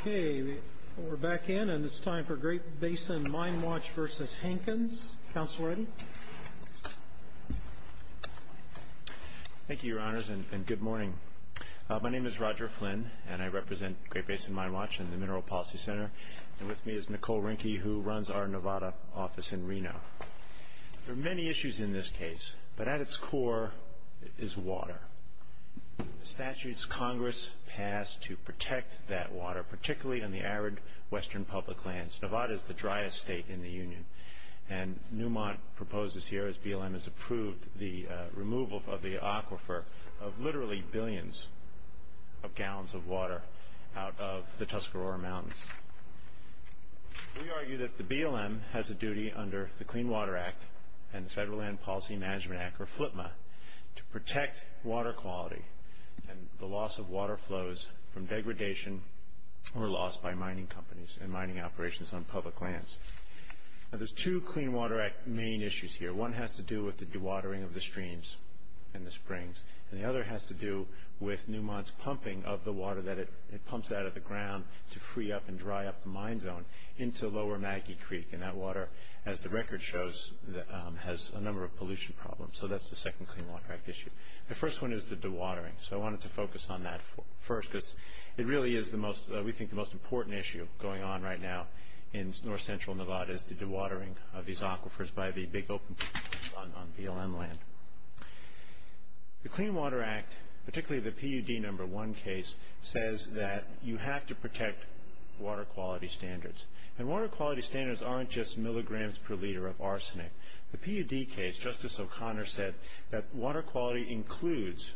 Okay, we're back in and it's time for Great Basin Mine Watch v. Hankins. Councilor Eddy? Thank you, Your Honors, and good morning. My name is Roger Flynn, and I represent Great Basin Mine Watch and the Mineral Policy Center. And with me is Nicole Rinke, who runs our Nevada office in Reno. There are many issues in this case, but at its core, it is water. The statutes Congress passed to protect that water, particularly in the arid western public lands. Nevada is the driest state in the Union. And Newmont proposes here, as BLM has approved, the removal of the aquifer of literally billions of gallons of water out of the Tuscarora Mountains. We argue that the BLM has a duty under the Clean Water Act and the Federal Land Policy Management Act, or FLPMA, to protect water quality and the loss of water flows from degradation or loss by mining companies and mining operations on public lands. Now, there's two Clean Water Act main issues here. One has to do with the dewatering of the streams and the springs. And the other has to do with Newmont's pumping of the water that it pumps out of the ground to free up and dry up the mine zone into Lower Maggie Creek. And that water, as the record shows, has a number of pollution problems. So that's the second Clean Water Act issue. The first one is the dewatering. So I wanted to focus on that first because it really is, we think, the most important issue going on right now in north-central Nevada is the dewatering of these aquifers by the big open pools on BLM land. The Clean Water Act, particularly the PUD number one case, says that you have to protect water quality standards. And water quality standards aren't just milligrams per liter of arsenic. The PUD case, Justice O'Connor said, that water quality includes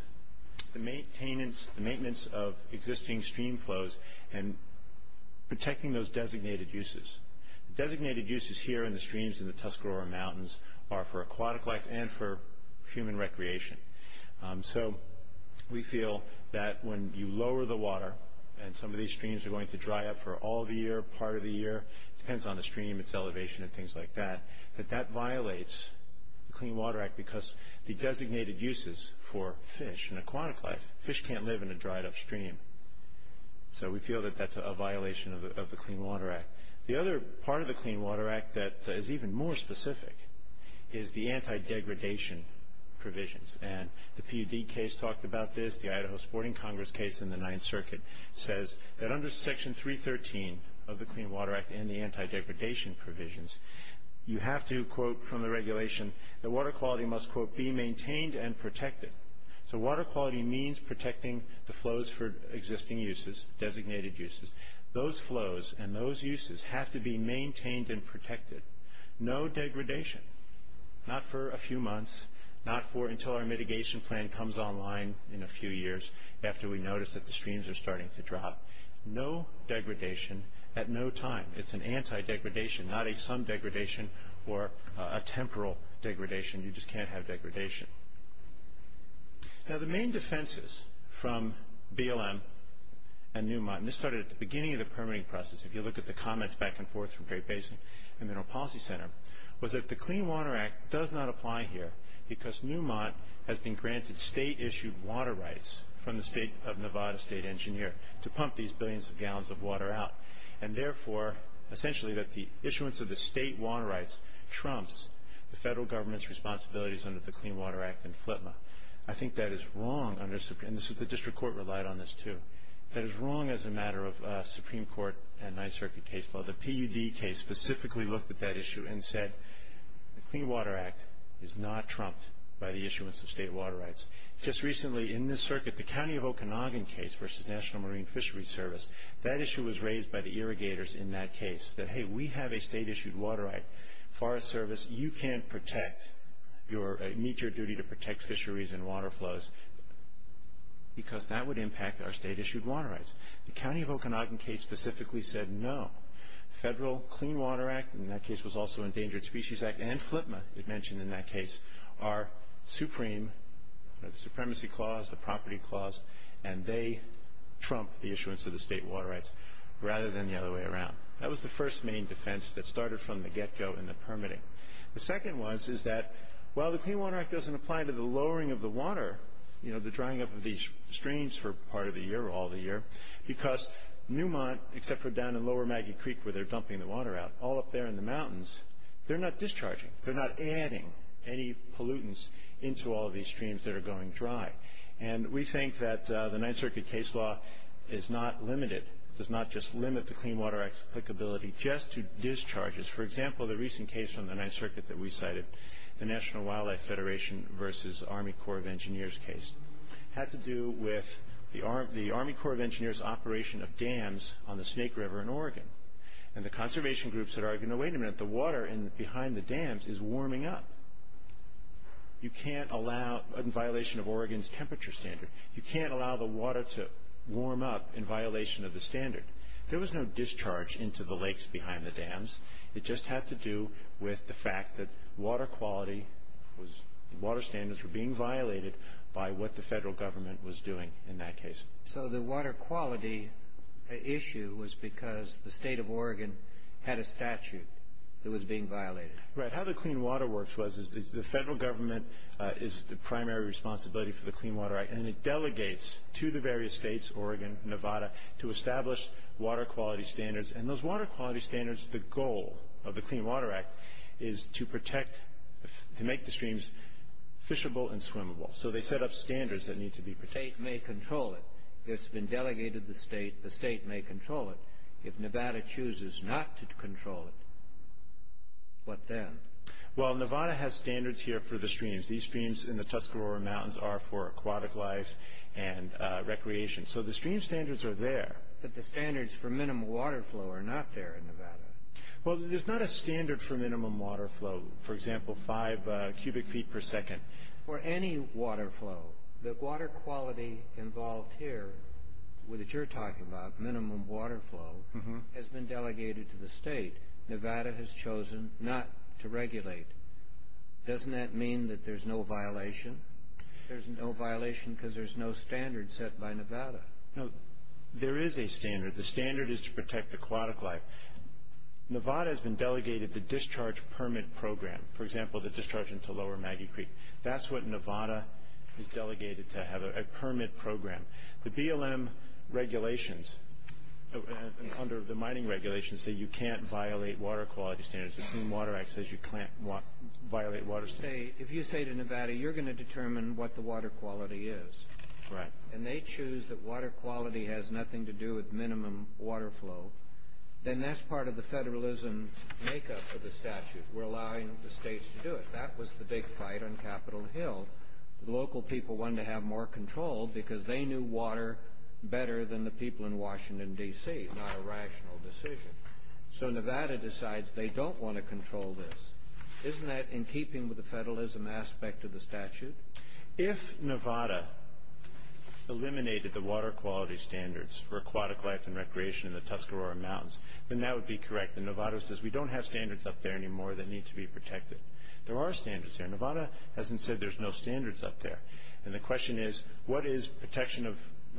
the maintenance of existing stream flows and protecting those designated uses. The designated uses here in the streams in the Tuscarora Mountains are for aquatic life and for human recreation. So we feel that when you lower the water, and some of these streams are going to dry up for all the year, part of the year, depends on the stream, its elevation, and things like that, that that violates the Clean Water Act because the designated uses for fish and aquatic life, fish can't live in a dried up stream. So we feel that that's a violation of the Clean Water Act. The other part of the Clean Water Act that is even more specific is the anti-degradation provisions. And the PUD case talked about this, the Idaho Sporting Congress case in the Ninth Circuit, says that under Section 313 of the Clean Water Act and the anti-degradation provisions, you have to, quote, from the regulation, that water quality must, quote, be maintained and protected. So water quality means protecting the flows for existing uses, designated uses. Those flows and those uses have to be maintained and protected. No degradation, not for a few months, not for until our mitigation plan comes online in a few years after we notice that the streams are starting to drop. No degradation at no time. It's an anti-degradation, not a some degradation or a temporal degradation. You just can't have degradation. Now the main defenses from BLM and Newmont, and this started at the beginning of the permitting process, if you look at the comments back and forth from Great Basin and Mineral Policy Center, was that the Clean Water Act does not apply here because Newmont has been granted state-issued water rights from the state of Nevada, state engineer, to pump these billions of gallons of water out, and therefore, essentially, that the issuance of the state water rights trumps the federal government's responsibilities under the Clean Water Act and FLTMA. I think that is wrong, and the district court relied on this, too. That is wrong as a matter of Supreme Court and Ninth Circuit case law. The PUD case specifically looked at that issue and said, the Clean Water Act is not trumped by the issuance of state water rights. Just recently, in this circuit, the County of Okanagan case versus National Marine Fisheries Service, that issue was raised by the irrigators in that case, that, hey, we have a state-issued water right. Forest Service, you can't meet your duty to protect fisheries and water flows because that would impact our state-issued water rights. The County of Okanagan case specifically said no. Federal Clean Water Act, and that case was also Endangered Species Act, and FLTMA, as mentioned in that case, are supreme, the supremacy clause, the property clause, and they trump the issuance of the state water rights rather than the other way around. That was the first main defense that started from the get-go in the permitting. The second was that while the Clean Water Act doesn't apply to the lowering of the water, you know, the drying up of these streams for part of the year or all the year, because Newmont, except for down in Lower Maggie Creek where they're dumping the water out, all up there in the mountains, they're not discharging. They're not adding any pollutants into all of these streams that are going dry. And we think that the Ninth Circuit case law is not limited, does not just limit the Clean Water Act's applicability just to discharges. For example, the recent case from the Ninth Circuit that we cited, the National Wildlife Federation v. Army Corps of Engineers case, had to do with the Army Corps of Engineers' operation of dams on the Snake River in Oregon, and the conservation groups had argued, no, wait a minute, the water behind the dams is warming up. You can't allow, in violation of Oregon's temperature standard, you can't allow the water to warm up in violation of the standard. There was no discharge into the lakes behind the dams. It just had to do with the fact that water standards were being violated by what the federal government was doing in that case. So the water quality issue was because the state of Oregon had a statute that was being violated. Right. How the Clean Water Works was, the federal government is the primary responsibility for the Clean Water Act, and it delegates to the various states, Oregon, Nevada, to establish water quality standards. And those water quality standards, the goal of the Clean Water Act, is to protect, to make the streams fishable and swimmable. So they set up standards that need to be protected. The state may control it. It's been delegated to the state. The state may control it. If Nevada chooses not to control it, what then? Well, Nevada has standards here for the streams. These streams in the Tuscarora Mountains are for aquatic life and recreation. So the stream standards are there. But the standards for minimum water flow are not there in Nevada. Well, there's not a standard for minimum water flow, for example, 5 cubic feet per second. For any water flow, the water quality involved here that you're talking about, minimum water flow, has been delegated to the state. Nevada has chosen not to regulate. Doesn't that mean that there's no violation? There's no violation because there's no standard set by Nevada. No, there is a standard. The standard is to protect aquatic life. Nevada has been delegated the discharge permit program, for example, the discharge into Lower Maggie Creek. That's what Nevada has delegated to have, a permit program. The BLM regulations, under the mining regulations, say you can't violate water quality standards. The Clean Water Act says you can't violate water standards. If you say to Nevada, you're going to determine what the water quality is. Right. And they choose that water quality has nothing to do with minimum water flow, then that's part of the federalism makeup of the statute. We're allowing the states to do it. That was the big fight on Capitol Hill. The local people wanted to have more control because they knew water better than the people in Washington, D.C., not a rational decision. So Nevada decides they don't want to control this. Isn't that in keeping with the federalism aspect of the statute? If Nevada eliminated the water quality standards for aquatic life and recreation in the Tuscarora Mountains, then that would be correct. And Nevada says we don't have standards up there anymore that need to be protected. There are standards there. Nevada hasn't said there's no standards up there. And the question is, what is protection of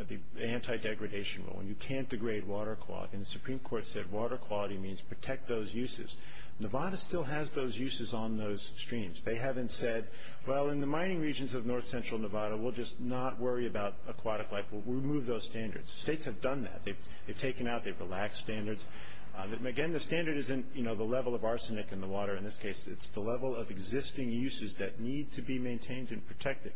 the anti-degradation rule? You can't degrade water quality. And the Supreme Court said water quality means protect those uses. Nevada still has those uses on those streams. They haven't said, well, in the mining regions of north central Nevada, we'll just not worry about aquatic life. We'll remove those standards. States have done that. They've taken out the relaxed standards. Again, the standard isn't, you know, the level of arsenic in the water in this case. It's the level of existing uses that need to be maintained and protected.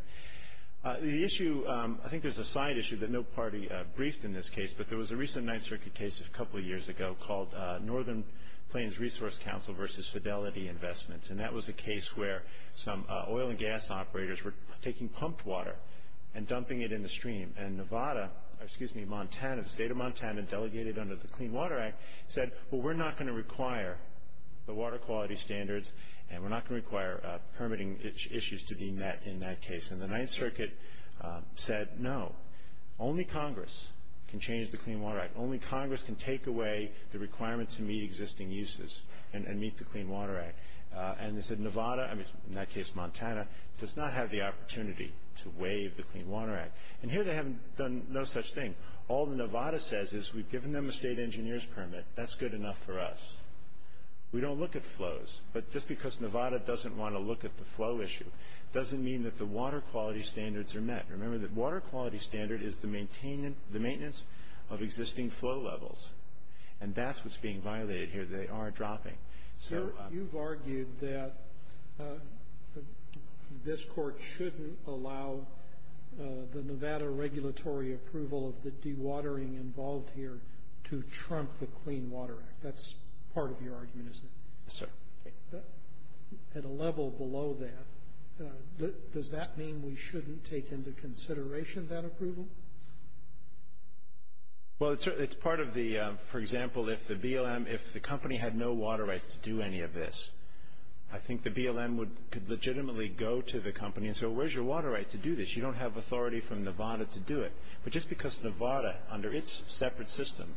The issue, I think there's a side issue that no party briefed in this case, but there was a recent Ninth Circuit case a couple of years ago called Northern Plains Resource Council versus Fidelity Investments. And that was a case where some oil and gas operators were taking pumped water and dumping it in the stream. And Nevada, excuse me, Montana, the state of Montana, delegated under the Clean Water Act said, well, we're not going to require the water quality standards and we're not going to require permitting issues to be met in that case. And the Ninth Circuit said, no, only Congress can change the Clean Water Act. Only Congress can take away the requirement to meet existing uses and meet the Clean Water Act. And they said Nevada, in that case Montana, does not have the opportunity to waive the Clean Water Act. And here they haven't done no such thing. All that Nevada says is we've given them a state engineer's permit. That's good enough for us. We don't look at flows. But just because Nevada doesn't want to look at the flow issue doesn't mean that the water quality standards are met. Remember that water quality standard is the maintenance of existing flow levels. And that's what's being violated here. They are dropping. So you've argued that this Court shouldn't allow the Nevada regulatory approval of the dewatering involved here to trump the Clean Water Act. That's part of your argument, isn't it? Yes, sir. At a level below that, does that mean we shouldn't take into consideration that approval? Well, it's part of the, for example, if the BLM, if the company had no water rights to do any of this, I think the BLM could legitimately go to the company and say, well, where's your water right to do this? You don't have authority from Nevada to do it. But just because Nevada, under its separate system,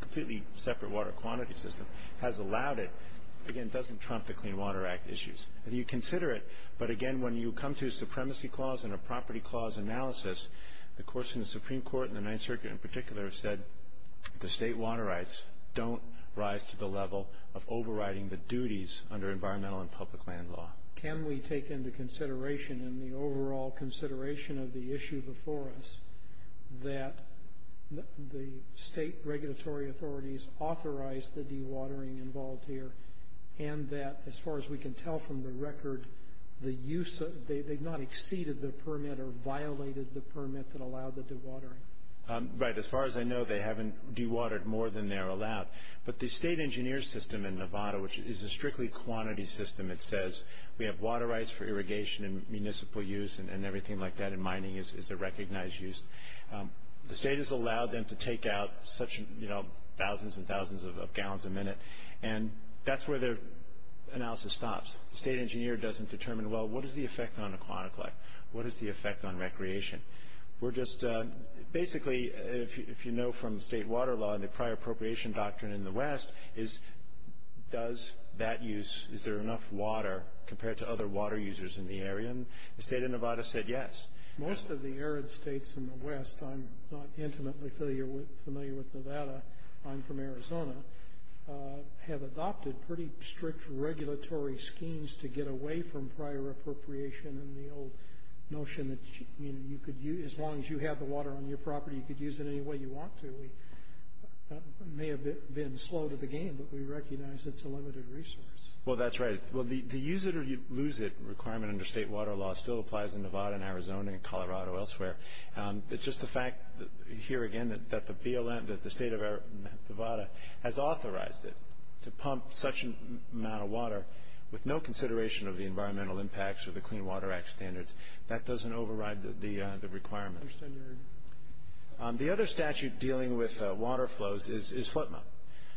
completely separate water quantity system, has allowed it, again, doesn't trump the Clean Water Act issues. You consider it, but again, when you come to a supremacy clause and a property clause analysis, the courts in the Supreme Court and the Ninth Circuit in particular have said the state water rights don't rise to the level of overriding the duties under environmental and public land law. Can we take into consideration, in the overall consideration of the issue before us, that the state regulatory authorities authorized the dewatering involved here and that, as far as we can tell from the record, they've not exceeded the permit or violated the permit that allowed the dewatering? Right. As far as I know, they haven't dewatered more than they're allowed. But the state engineer system in Nevada, which is a strictly quantity system, it says we have water rights for irrigation and municipal use and everything like that, and mining is a recognized use. The state has allowed them to take out such thousands and thousands of gallons a minute, and that's where their analysis stops. The state engineer doesn't determine, well, what is the effect on aquatic life? What is the effect on recreation? We're just basically, if you know from state water law and the prior appropriation doctrine in the West, is does that use, is there enough water compared to other water users in the area? And the state of Nevada said yes. Most of the arid states in the West, I'm not intimately familiar with Nevada, I'm from Arizona, have adopted pretty strict regulatory schemes to get away from prior appropriation and the old notion that you could use, as long as you have the water on your property, you could use it any way you want to. We may have been slow to the game, but we recognize it's a limited resource. Well, that's right. The use it or lose it requirement under state water law still applies in Nevada and Arizona and Colorado and elsewhere. It's just the fact, here again, that the BLM, that the state of Nevada has authorized it to pump such an amount of water with no consideration of the Environmental Impacts or the Clean Water Act standards. That doesn't override the requirements. The other statute dealing with water flows is FLPMA.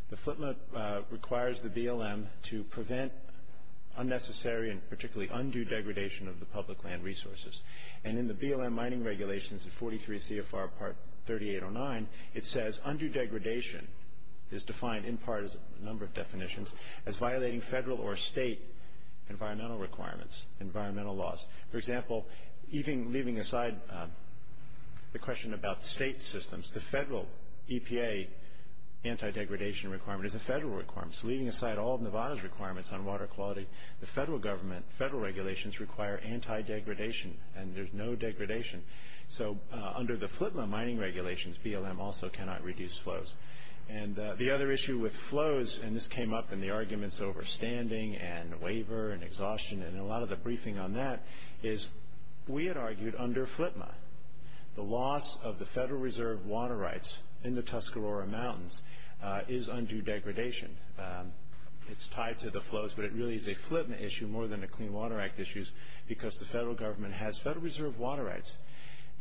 The FLPMA requires the BLM to prevent unnecessary and particularly undue degradation of the public land resources. And in the BLM Mining Regulations of 43 CFR Part 3809, it says, undue degradation is defined in part as a number of definitions as violating federal or state environmental requirements, environmental laws. For example, even leaving aside the question about state systems, the federal EPA anti-degradation requirement is a federal requirement. So leaving aside all of Nevada's requirements on water quality, the federal regulations require anti-degradation, and there's no degradation. So under the FLPMA Mining Regulations, BLM also cannot reduce flows. And the other issue with flows, and this came up in the arguments over standing and waiver and exhaustion and a lot of the briefing on that, is we had argued under FLPMA the loss of the Federal Reserve water rights in the Tuscarora Mountains is undue degradation. It's tied to the flows, but it really is a FLPMA issue more than a Clean Water Act issue because the federal government has Federal Reserve water rights.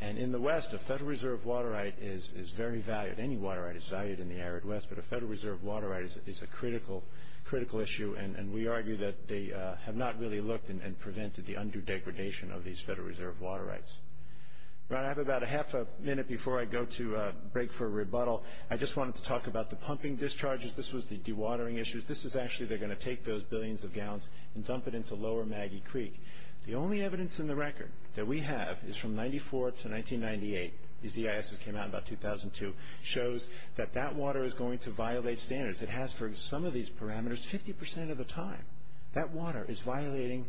And in the West, a Federal Reserve water right is very valued. Any water right is valued in the arid West, but a Federal Reserve water right is a critical issue. And we argue that they have not really looked and prevented the undue degradation of these Federal Reserve water rights. I have about a half a minute before I go to break for a rebuttal. I just wanted to talk about the pumping discharges. This was the dewatering issues. This is actually they're going to take those billions of gallons and dump it into Lower Maggie Creek. The only evidence in the record that we have is from 1994 to 1998. These EISs came out in about 2002. It shows that that water is going to violate standards. It has for some of these parameters 50% of the time. That water is violating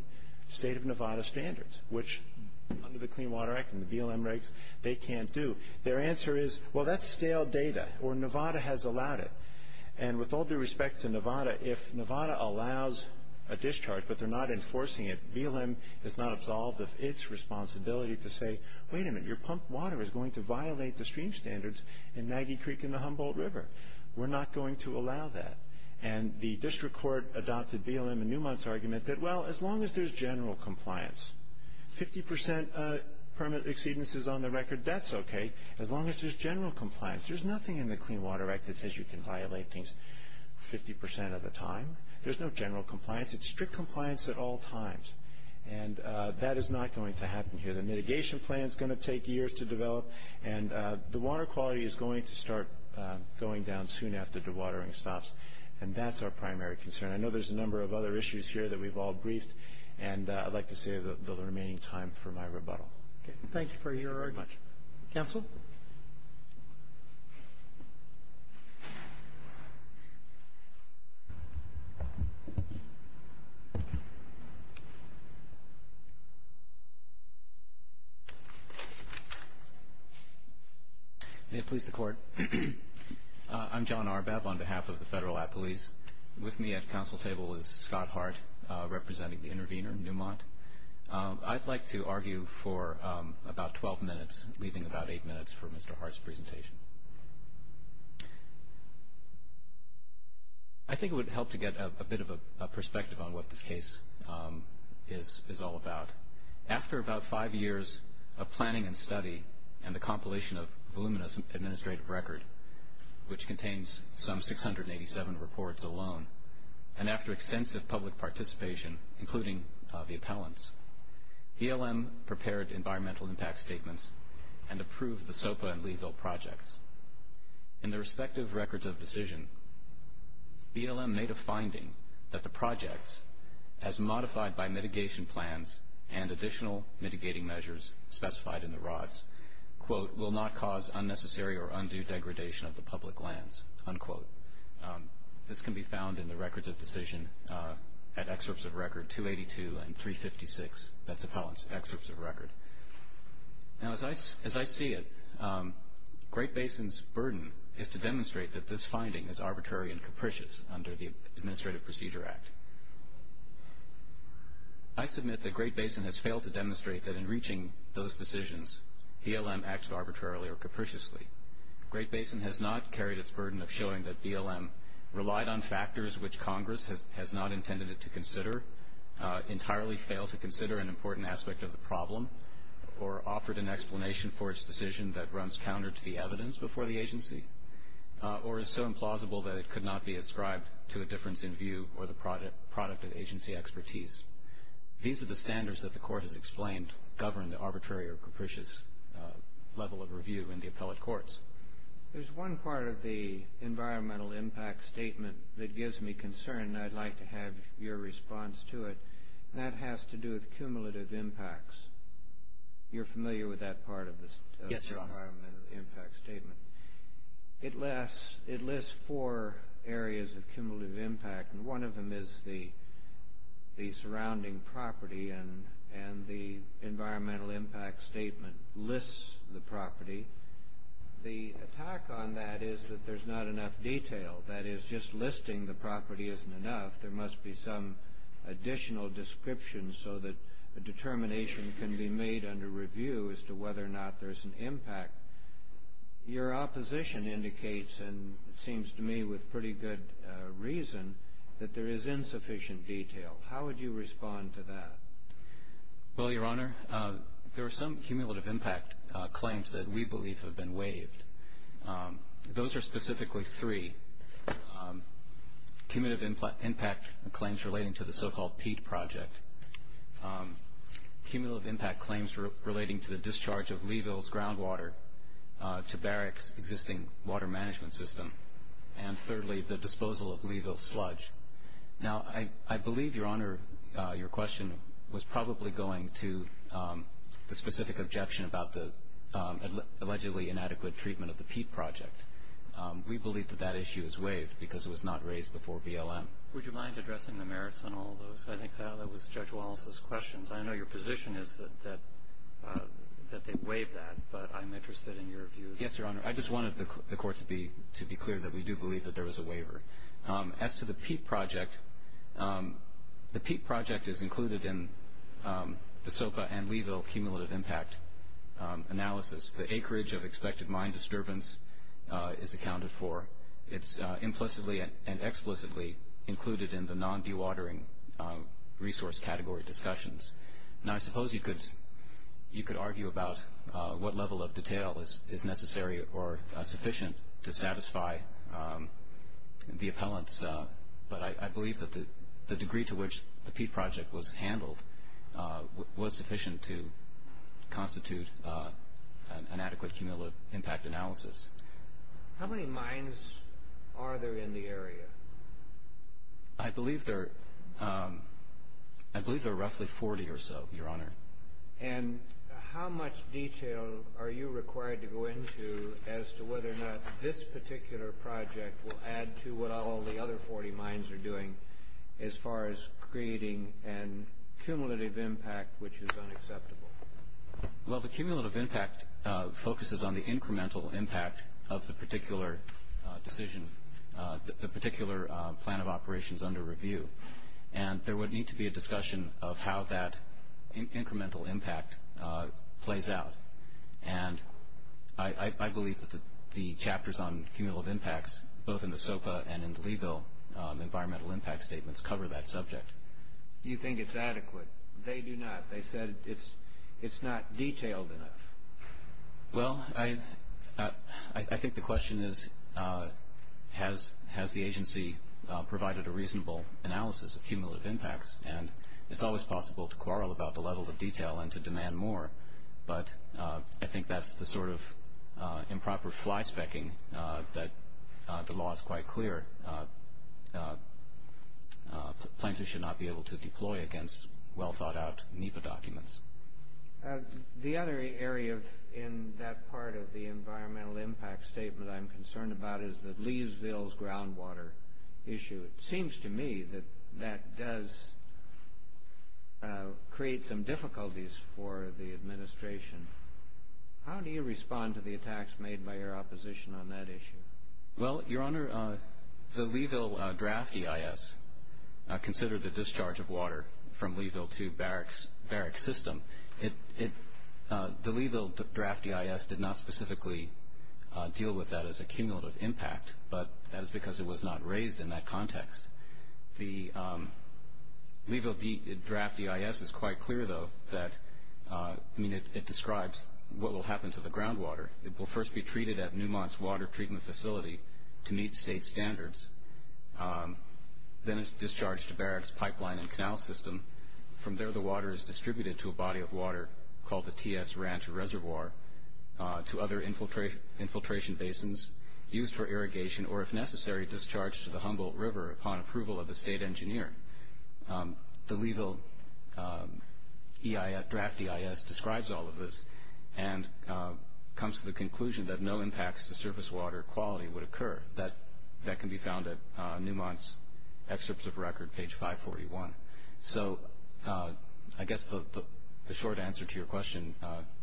state of Nevada standards, which under the Clean Water Act and the BLM regs they can't do. Their answer is, well, that's stale data, or Nevada has allowed it. And with all due respect to Nevada, if Nevada allows a discharge but they're not enforcing it, BLM is not absolved of its responsibility to say, wait a minute, your pumped water is going to violate the stream standards in Maggie Creek and the Humboldt River. We're not going to allow that. And the district court adopted BLM and Newmont's argument that, well, as long as there's general compliance, 50% permit exceedances on the record, that's okay as long as there's general compliance. There's nothing in the Clean Water Act that says you can violate things 50% of the time. There's no general compliance. It's strict compliance at all times, and that is not going to happen here. The mitigation plan is going to take years to develop, and the water quality is going to start going down soon after the watering stops, and that's our primary concern. I know there's a number of other issues here that we've all briefed, and I'd like to save the remaining time for my rebuttal. Thank you very much. Counsel? May it please the Court. I'm John Arbab on behalf of the Federal Appellees. With me at the counsel table is Scott Hart, representing the intervener in Newmont. I'd like to argue for about 12 minutes, leaving about eight minutes for Mr. Hart's presentation. I think it would help to get a bit of a perspective on what this case is all about. After about five years of planning and study and the compilation of voluminous administrative record, which contains some 687 reports alone, and after extensive public participation, including the appellants, BLM prepared environmental impact statements and approved the SOPA and Leeville projects. In their respective records of decision, BLM made a finding that the projects, as modified by mitigation plans and additional mitigating measures specified in the rods, quote, will not cause unnecessary or undue degradation of the public lands, unquote. This can be found in the records of decision at excerpts of record 282 and 356, that's appellants' excerpts of record. Now, as I see it, Great Basin's burden is to demonstrate that this finding is arbitrary and capricious under the Administrative Procedure Act. I submit that Great Basin has failed to demonstrate that in reaching those decisions, BLM acted arbitrarily or capriciously. Great Basin has not carried its burden of showing that BLM relied on factors which Congress has not intended it to consider, entirely failed to consider an important aspect of the problem, or offered an explanation for its decision that runs counter to the evidence before the agency, or is so implausible that it could not be ascribed to a difference in view or the product of agency expertise. These are the standards that the Court has explained govern the arbitrary or capricious level of review in the appellate courts. There's one part of the environmental impact statement that gives me concern, and I'd like to have your response to it, and that has to do with cumulative impacts. You're familiar with that part of the environmental impact statement? Yes, Your Honor. It lists four areas of cumulative impact, and one of them is the surrounding property, and the environmental impact statement lists the property. The attack on that is that there's not enough detail. That is, just listing the property isn't enough. There must be some additional description so that a determination can be made under review as to whether or not there's an impact. Your opposition indicates, and it seems to me with pretty good reason, that there is insufficient detail. How would you respond to that? Well, Your Honor, there are some cumulative impact claims that we believe have been waived. Those are specifically three, cumulative impact claims relating to the so-called peat project, cumulative impact claims relating to the discharge of Leeville's groundwater to Barrick's existing water management system, and thirdly, the disposal of Leeville's sludge. Now, I believe, Your Honor, your question was probably going to the specific objection about the allegedly inadequate treatment of the peat project. We believe that that issue is waived because it was not raised before BLM. Would you mind addressing the merits on all those? I think that was Judge Wallace's questions. I know your position is that they waive that, but I'm interested in your view. Yes, Your Honor. I just wanted the Court to be clear that we do believe that there was a waiver. As to the peat project, the peat project is included in the SOPA and Leeville cumulative impact analysis. The acreage of expected mine disturbance is accounted for. It's implicitly and explicitly included in the non-dewatering resource category discussions. Now, I suppose you could argue about what level of detail is necessary or sufficient to satisfy the appellants, but I believe that the degree to which the peat project was handled was sufficient to constitute an adequate cumulative impact analysis. How many mines are there in the area? I believe there are roughly 40 or so, Your Honor. And how much detail are you required to go into as to whether or not this particular project will add to what all the other 40 mines are doing as far as creating a cumulative impact which is unacceptable? Well, the cumulative impact focuses on the incremental impact of the particular decision, the particular plan of operations under review, and there would need to be a discussion of how that incremental impact plays out. And I believe that the chapters on cumulative impacts, both in the SOPA and in the Leeville environmental impact statements, cover that subject. Do you think it's adequate? They do not. They said it's not detailed enough. Well, I think the question is, has the agency provided a reasonable analysis of cumulative impacts? And it's always possible to quarrel about the level of detail and to demand more, but I think that's the sort of improper fly-specking that the law is quite clear. Plaintiffs should not be able to deploy against well-thought-out NEPA documents. The other area in that part of the environmental impact statement I'm concerned about is the Leesville's groundwater issue. It seems to me that that does create some difficulties for the administration. How do you respond to the attacks made by your opposition on that issue? Well, Your Honor, the Leesville draft EIS considered the discharge of water from Leesville to Barrick's system. The Leesville draft EIS did not specifically deal with that as a cumulative impact, but that is because it was not raised in that context. The Leesville draft EIS is quite clear, though, that it describes what will happen to the groundwater. It will first be treated at Newmont's water treatment facility to meet state standards. Then it's discharged to Barrick's pipeline and canal system. From there, the water is distributed to a body of water called the T.S. Ranch Reservoir, to other infiltration basins used for irrigation or, if necessary, discharged to the Humboldt River upon approval of the state engineer. The Leesville draft EIS describes all of this and comes to the conclusion that no impacts to surface water quality would occur. That can be found at Newmont's excerpts of record, page 541. So I guess the short answer to your question,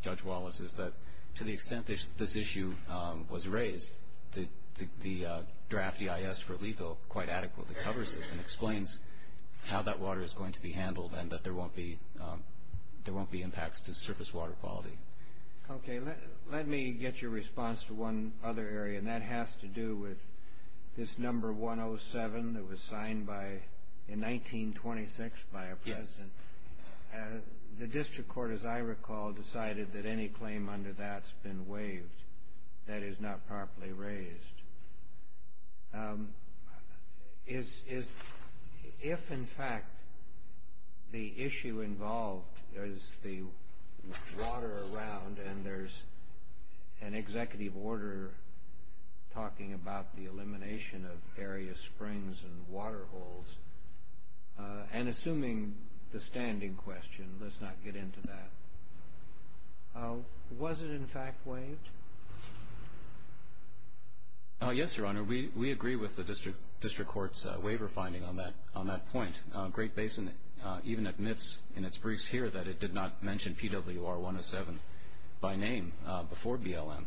Judge Wallace, is that to the extent this issue was raised, the draft EIS for Leesville quite adequately covers it and explains how that water is going to be handled and that there won't be impacts to surface water quality. Okay, let me get your response to one other area, and that has to do with this number 107 that was signed in 1926 by a president. Yes. The district court, as I recall, decided that any claim under that's been waived. That is not properly raised. If, in fact, the issue involved is the water around, and there's an executive order talking about the elimination of area springs and water holes, and assuming the standing question, let's not get into that. Was it, in fact, waived? Yes, Your Honor. We agree with the district court's waiver finding on that point. Great Basin even admits in its briefs here that it did not mention PWR 107 by name before BLM.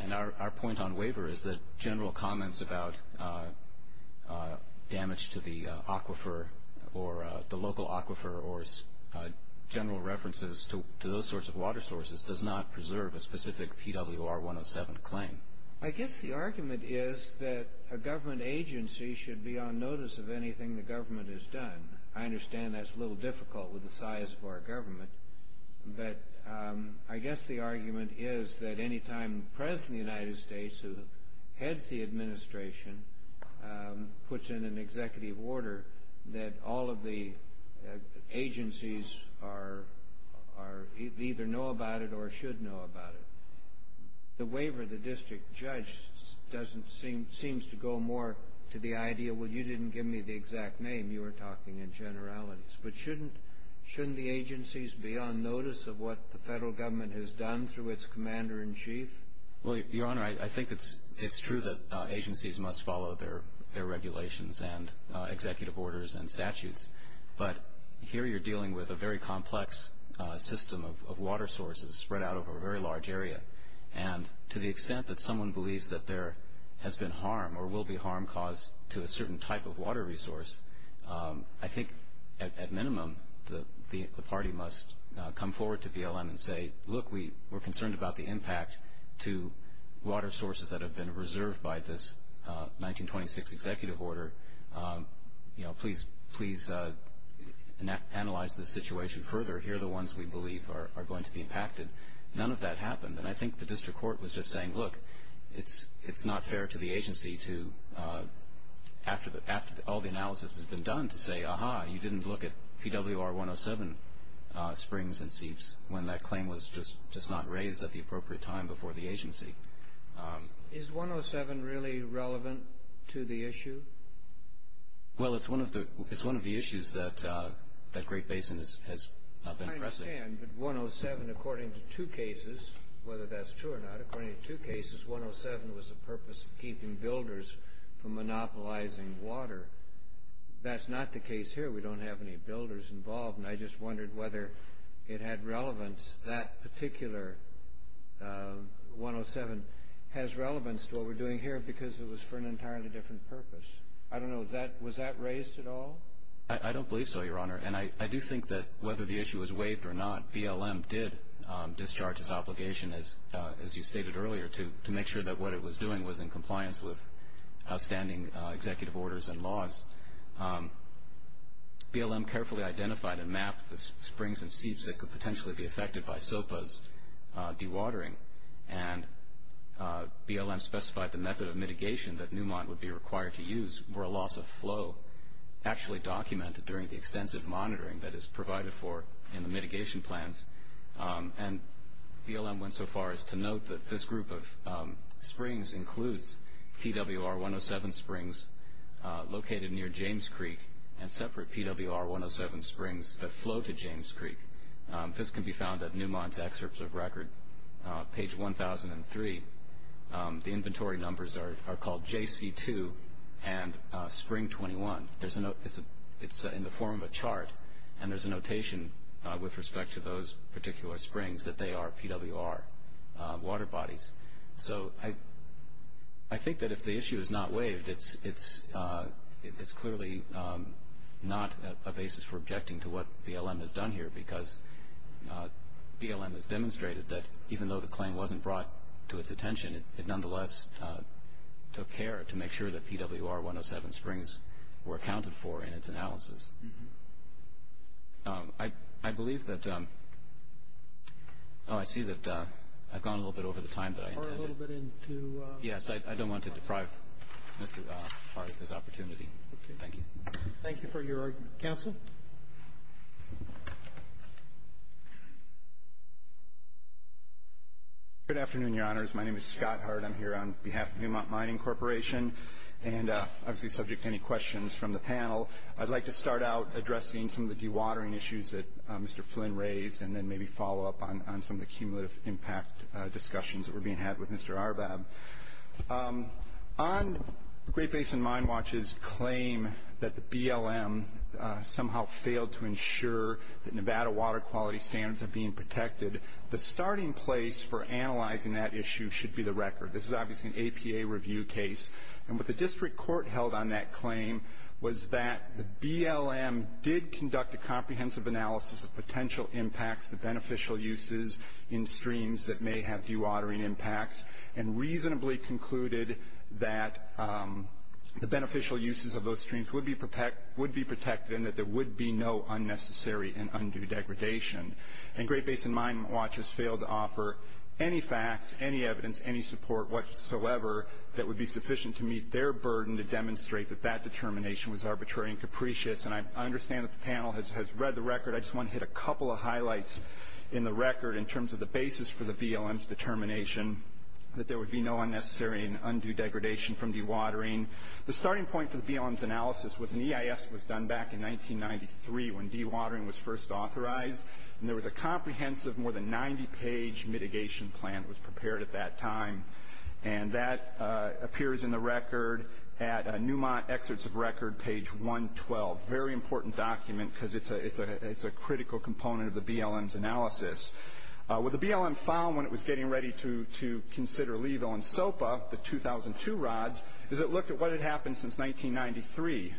And our point on waiver is that general comments about damage to the aquifer or the local aquifer or general references to those sorts of water sources does not preserve a specific PWR 107 claim. I guess the argument is that a government agency should be on notice of anything the government has done. I understand that's a little difficult with the size of our government, but I guess the argument is that any time the President of the United States, who heads the administration, puts in an executive order, that all of the agencies either know about it or should know about it. The waiver of the district judge seems to go more to the idea, well, you didn't give me the exact name. You were talking in generalities. But shouldn't the agencies be on notice of what the federal government has done through its commander in chief? Well, Your Honor, I think it's true that agencies must follow their regulations and executive orders and statutes. But here you're dealing with a very complex system of water sources spread out over a very large area. And to the extent that someone believes that there has been harm or will be harm caused to a certain type of water resource, I think at minimum the party must come forward to BLM and say, look, we're concerned about the impact to water sources that have been reserved by this 1926 executive order. Please analyze this situation further. Here are the ones we believe are going to be impacted. None of that happened. And I think the district court was just saying, look, it's not fair to the agency to, after all the analysis has been done, to say, aha, you didn't look at PWR 107 springs and seeps when that claim was just not raised at the appropriate time before the agency. Is 107 really relevant to the issue? Well, it's one of the issues that Great Basin has been pressing. I understand. But 107, according to two cases, whether that's true or not, according to two cases, 107 was the purpose of keeping builders from monopolizing water. That's not the case here. We don't have any builders involved. And I just wondered whether it had relevance, that particular 107, has relevance to what we're doing here because it was for an entirely different purpose. I don't know. Was that raised at all? I don't believe so, Your Honor. And I do think that whether the issue was waived or not, BLM did discharge its obligation, as you stated earlier, to make sure that what it was doing was in compliance with outstanding executive orders and laws. BLM carefully identified and mapped the springs and seeps that could potentially be affected by SOPA's dewatering. And BLM specified the method of mitigation that Newmont would be required to use were a loss of flow actually documented during the extensive monitoring that is provided for in the mitigation plans. And BLM went so far as to note that this group of springs includes PWR 107 springs located near James Creek and separate PWR 107 springs that flow to James Creek. This can be found at Newmont's excerpts of record, page 1003. The inventory numbers are called JC2 and Spring 21. It's in the form of a chart, and there's a notation with respect to those particular springs that they are PWR water bodies. So I think that if the issue is not waived, it's clearly not a basis for objecting to what BLM has done here because BLM has demonstrated that even though the claim wasn't brought to its attention, it nonetheless took care to make sure that PWR 107 springs were accounted for in its analysis. I believe that – oh, I see that I've gone a little bit over the time that I intended. Yes, I don't want to deprive Mr. Hart of his opportunity. Thank you. Thank you for your argument. Counsel? Good afternoon, Your Honors. My name is Scott Hart. I'm here on behalf of Newmont Mining Corporation, and I'm subject to any questions from the panel. I'd like to start out addressing some of the dewatering issues that Mr. Flynn raised and then maybe follow up on some of the cumulative impact discussions that were being had with Mr. Arbab. On Great Basin Mine Watch's claim that the BLM somehow failed to ensure that Nevada water quality standards are being protected, the starting place for analyzing that issue should be the record. This is obviously an APA review case. And what the district court held on that claim was that the BLM did conduct a comprehensive analysis of potential impacts to beneficial uses in streams that may have dewatering impacts and reasonably concluded that the beneficial uses of those streams would be protected and that there would be no unnecessary and undue degradation. And Great Basin Mine Watch has failed to offer any facts, any evidence, any support whatsoever that would be sufficient to meet their burden to demonstrate that that determination was arbitrary and capricious. And I understand that the panel has read the record. I just want to hit a couple of highlights in the record in terms of the basis for the BLM's determination that there would be no unnecessary and undue degradation from dewatering. The starting point for the BLM's analysis was an EIS that was done back in 1993 when dewatering was first authorized. And there was a comprehensive, more than 90-page mitigation plan that was prepared at that time. And that appears in the record at Newmont Excerpts of Record, page 112. Very important document because it's a critical component of the BLM's analysis. What the BLM found when it was getting ready to consider Levo and SOPA, the 2002 rods, is it looked at what had happened since 1993.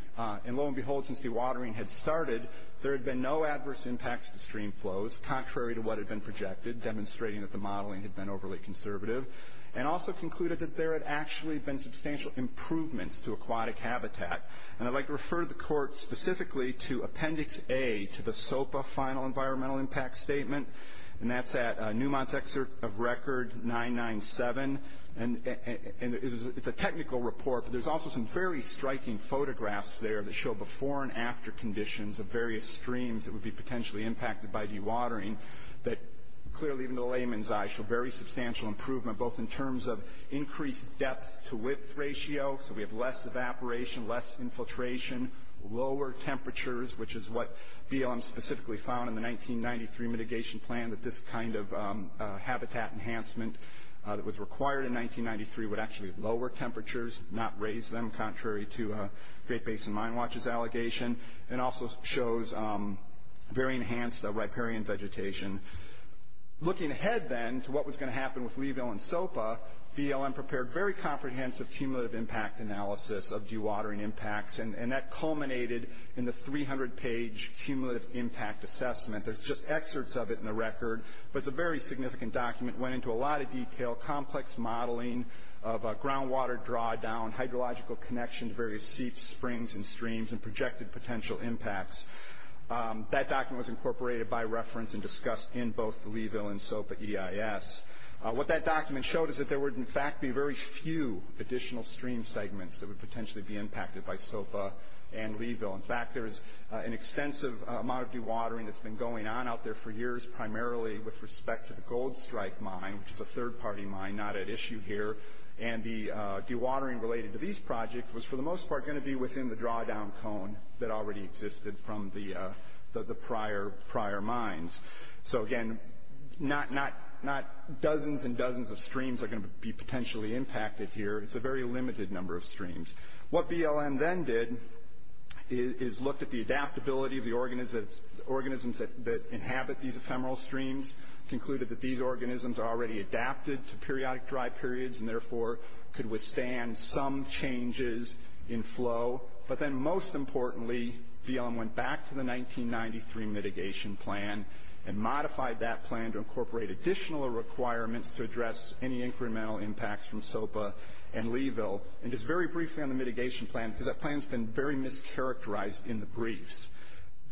And lo and behold, since dewatering had started, there had been no adverse impacts to stream flows, contrary to what had been projected, demonstrating that the modeling had been overly conservative, and also concluded that there had actually been substantial improvements to aquatic habitat. And I'd like to refer the court specifically to Appendix A to the SOPA Final Environmental Impact Statement. And that's at Newmont's Excerpt of Record 997. And it's a technical report, but there's also some very striking photographs there that show before and after conditions of various streams that would be potentially impacted by dewatering that clearly, even to a layman's eye, show very substantial improvement, both in terms of increased depth-to-width ratio, so we have less evaporation, less infiltration, lower temperatures, which is what BLM specifically found in the 1993 mitigation plan, that this kind of habitat enhancement that was required in 1993 would actually lower temperatures, not raise them, contrary to Great Basin Mine Watch's allegation, and also shows very enhanced riparian vegetation. Looking ahead, then, to what was going to happen with Leeville and SOPA, BLM prepared very comprehensive cumulative impact analysis of dewatering impacts, and that culminated in the 300-page cumulative impact assessment. There's just excerpts of it in the record, but it's a very significant document, went into a lot of detail, complex modeling of groundwater drawdown, hydrological connection to various seeps, springs, and streams, and projected potential impacts. That document was incorporated by reference and discussed in both Leeville and SOPA EIS. What that document showed is that there would, in fact, be very few additional stream segments that would potentially be impacted by SOPA and Leeville. In fact, there is an extensive amount of dewatering that's been going on out there for years, primarily with respect to the Gold Strike Mine, which is a third-party mine, not at issue here, and the dewatering related to these projects was, for the most part, going to be within the drawdown cone that already existed from the prior mines. So, again, not dozens and dozens of streams are going to be potentially impacted here. It's a very limited number of streams. What BLM then did is looked at the adaptability of the organisms that inhabit these ephemeral streams, concluded that these organisms are already adapted to periodic dry periods and, therefore, could withstand some changes in flow. But then, most importantly, BLM went back to the 1993 mitigation plan and modified that plan to incorporate additional requirements to address any incremental impacts from SOPA and Leeville. And just very briefly on the mitigation plan, because that plan's been very mischaracterized in the briefs,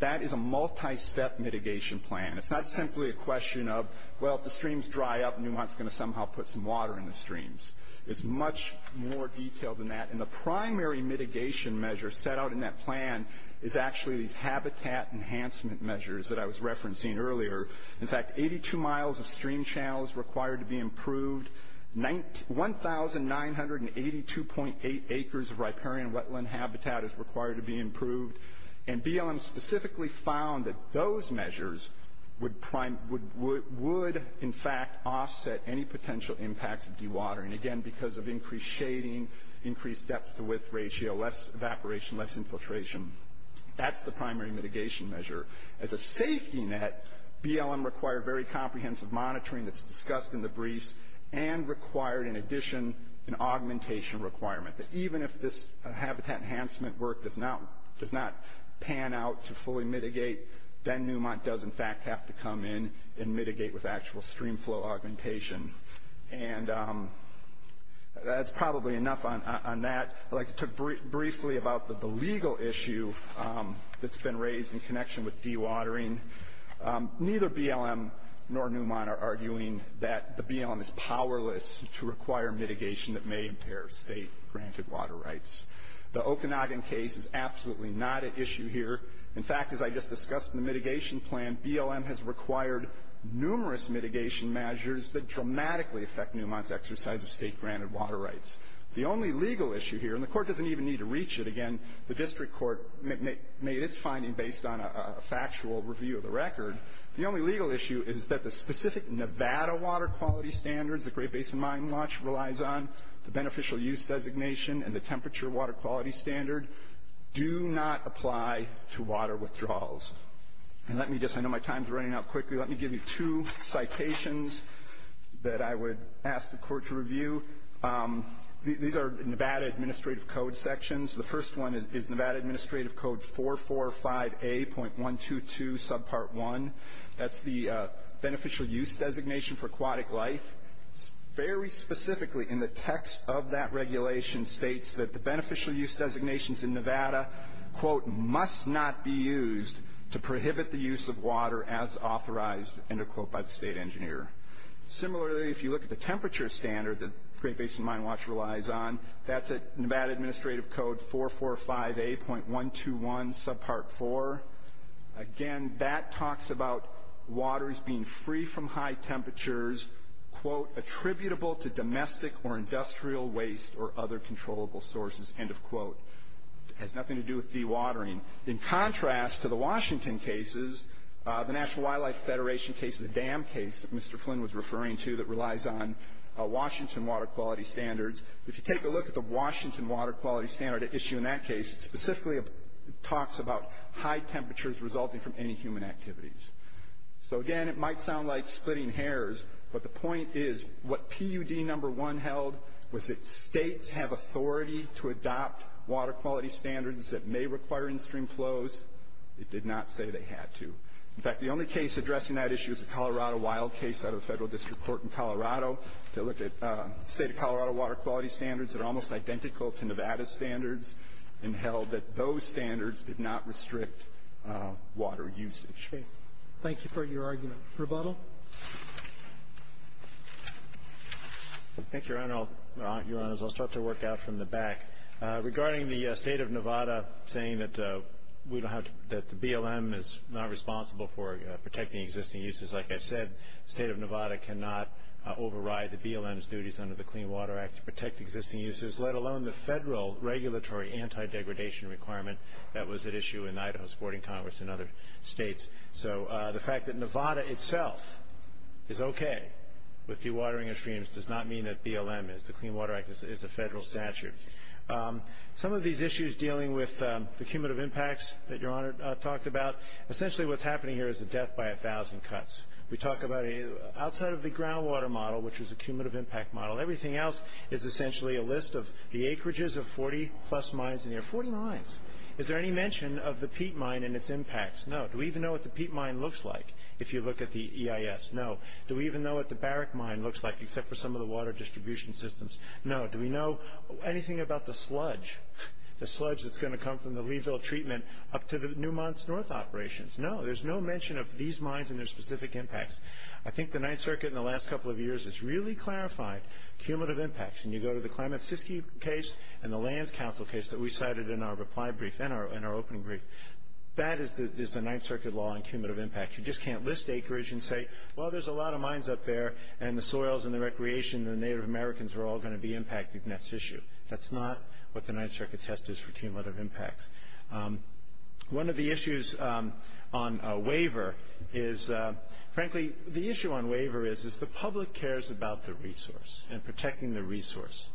that is a multi-step mitigation plan. It's not simply a question of, well, if the streams dry up, Newmont's going to somehow put some water in the streams. It's much more detailed than that, and the primary mitigation measure set out in that plan is actually these habitat enhancement measures that I was referencing earlier. In fact, 82 miles of stream channels required to be improved, 1,982.8 acres of riparian wetland habitat is required to be improved, and BLM specifically found that those measures would, in fact, offset any potential impacts of dewatering. Again, because of increased shading, increased depth-to-width ratio, less evaporation, less infiltration. That's the primary mitigation measure. As a safety net, BLM required very comprehensive monitoring that's discussed in the briefs and required, in addition, an augmentation requirement that even if this habitat enhancement work does not pan out to fully mitigate, then Newmont does, in fact, have to come in and mitigate with actual stream flow augmentation. And that's probably enough on that. I'd like to talk briefly about the legal issue that's been raised in connection with dewatering. Neither BLM nor Newmont are arguing that the BLM is powerless to require mitigation that may impair state-granted water rights. The Okanagan case is absolutely not at issue here. In fact, as I just discussed in the mitigation plan, BLM has required numerous mitigation measures that dramatically affect Newmont's exercise of state-granted water rights. The only legal issue here, and the court doesn't even need to reach it again, the district court made its finding based on a factual review of the record. The only legal issue is that the specific Nevada water quality standards that Great Basin Mine Launch relies on, the beneficial use designation, and the temperature water quality standard do not apply to water withdrawals. And let me just, I know my time's running out quickly, let me give you two citations that I would ask the court to review. These are Nevada Administrative Code sections. The first one is Nevada Administrative Code 445A.122 subpart 1. That's the beneficial use designation for aquatic life. Very specifically in the text of that regulation states that the beneficial use designations in Nevada quote, must not be used to prohibit the use of water as authorized, end of quote, by the state engineer. Similarly, if you look at the temperature standard that Great Basin Mine Launch relies on, that's Nevada Administrative Code 445A.121 subpart 4. Again, that talks about waters being free from high temperatures, quote, attributable to domestic or industrial waste or other controllable sources, end of quote. It has nothing to do with dewatering. In contrast to the Washington cases, the National Wildlife Federation case, the dam case that Mr. Flynn was referring to that relies on Washington water quality standards, if you take a look at the Washington water quality standard issue in that case, it specifically talks about high temperatures resulting from any human activities. So again, it might sound like splitting hairs, but the point is what PUD number one held was that states have authority to adopt water quality standards that may require in-stream flows. It did not say they had to. In fact, the only case addressing that issue is the Colorado wild case out of the Federal District Court in Colorado. They looked at the state of Colorado water quality standards that are almost identical to Nevada standards and held that those standards did not restrict water usage. Okay. Thank you for your argument. Rebuttal. Thank you, Your Honors. I'll start to work out from the back. Regarding the state of Nevada saying that the BLM is not responsible for protecting existing uses, like I said, the state of Nevada cannot override the BLM's duties under the Clean Water Act to protect existing uses, let alone the federal regulatory anti-degradation requirement that was at issue in Idaho's Boarding Congress and other states. So the fact that Nevada itself is okay with dewatering of streams does not mean that BLM is. The Clean Water Act is a federal statute. Some of these issues dealing with the cumulative impacts that Your Honor talked about, essentially what's happening here is a death by 1,000 cuts. We talk about outside of the groundwater model, which is a cumulative impact model, everything else is essentially a list of the acreages of 40-plus mines in there, 40 mines. Is there any mention of the peat mine and its impacts? No. Do we even know what the peat mine looks like if you look at the EIS? No. Do we even know what the barrack mine looks like except for some of the water distribution systems? No. Do we know anything about the sludge, the sludge that's going to come from the Leeville treatment up to the Newmont's North operations? No. There's no mention of these mines and their specific impacts. I think the Ninth Circuit in the last couple of years has really clarified cumulative impacts, and you go to the Klamath-Siskey case and the Lands Council case that we cited in our reply brief and our opening brief. That is the Ninth Circuit law on cumulative impacts. You just can't list acreage and say, well, there's a lot of mines up there, and the soils and the recreation and the Native Americans are all going to be impacted, and that's issue. That's not what the Ninth Circuit test is for cumulative impacts. One of the issues on waiver is, frankly, the issue on waiver is, is the public cares about the resource and protecting the resource.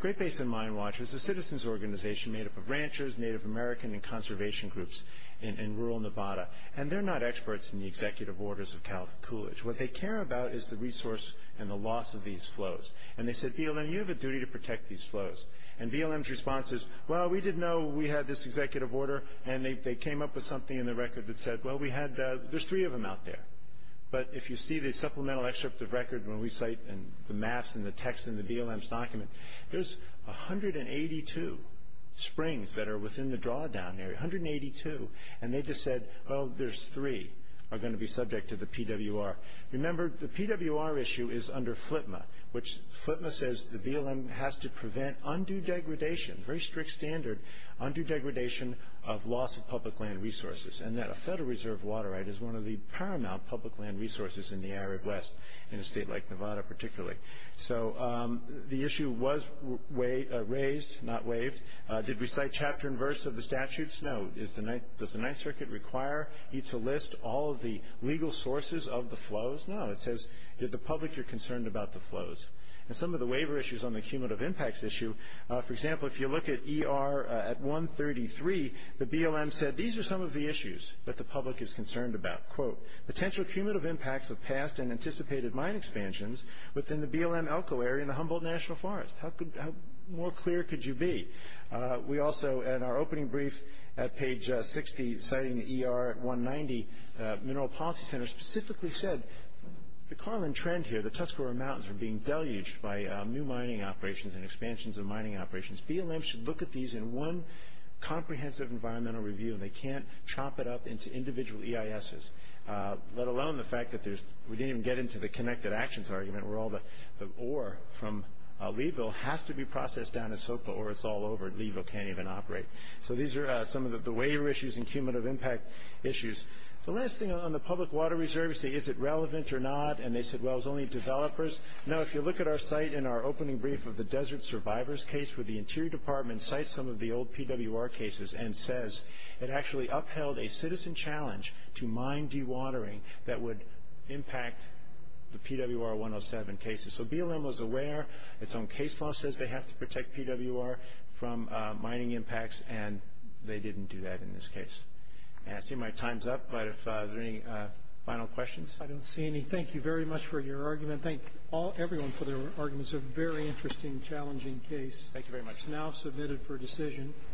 Great Basin Mine Watch is a citizen's organization made up of ranchers, Native American, and conservation groups in rural Nevada, and they're not experts in the executive orders of Cal Coolidge. What they care about is the resource and the loss of these flows. And they said, BLM, you have a duty to protect these flows. And BLM's response is, well, we didn't know we had this executive order, and they came up with something in the record that said, well, there's three of them out there. But if you see the supplemental excerpt of record when we cite the maps and the text in the BLM's document, there's 182 springs that are within the drawdown area, 182. And they just said, oh, there's three are going to be subject to the PWR. Remember, the PWR issue is under FLTMA, which FLTMA says the BLM has to prevent undue degradation, very strict standard, undue degradation of loss of public land resources, and that a Federal Reserve water right is one of the paramount public land resources in the Arid West, in a state like Nevada particularly. So the issue was raised, not waived. Did we cite chapter and verse of the statutes? No. Does the Ninth Circuit require you to list all of the legal sources of the flows? No. It says to the public you're concerned about the flows. And some of the waiver issues on the cumulative impacts issue, for example, if you look at ER at 133, the BLM said these are some of the issues that the public is concerned about. Quote, potential cumulative impacts of past and anticipated mine expansions within the BLM Elko area in the Humboldt National Forest. How more clear could you be? We also, in our opening brief at page 60, citing the ER at 190, Mineral Policy Center specifically said the Carlin trend here, the Tuscarora Mountains are being deluged by new mining operations and expansions of mining operations. BLM should look at these in one comprehensive environmental review, and they can't chop it up into individual EISs, let alone the fact that we didn't even get into the connected actions argument where all the ore from Levo has to be processed down to SOPA or it's all over and Levo can't even operate. So these are some of the waiver issues and cumulative impact issues. The last thing on the public water reserve, is it relevant or not? And they said, well, it's only developers. Now, if you look at our site in our opening brief of the Desert Survivors case, where the Interior Department cites some of the old PWR cases and says it actually upheld a citizen challenge to mine dewatering that would impact the PWR 107 cases. So BLM was aware. It's own case law says they have to protect PWR from mining impacts, and they didn't do that in this case. I see my time's up, but if there are any final questions. I don't see any. Thank you very much for your argument. Thank everyone for their arguments. It's a very interesting, challenging case. Thank you very much. It's now submitted for decision.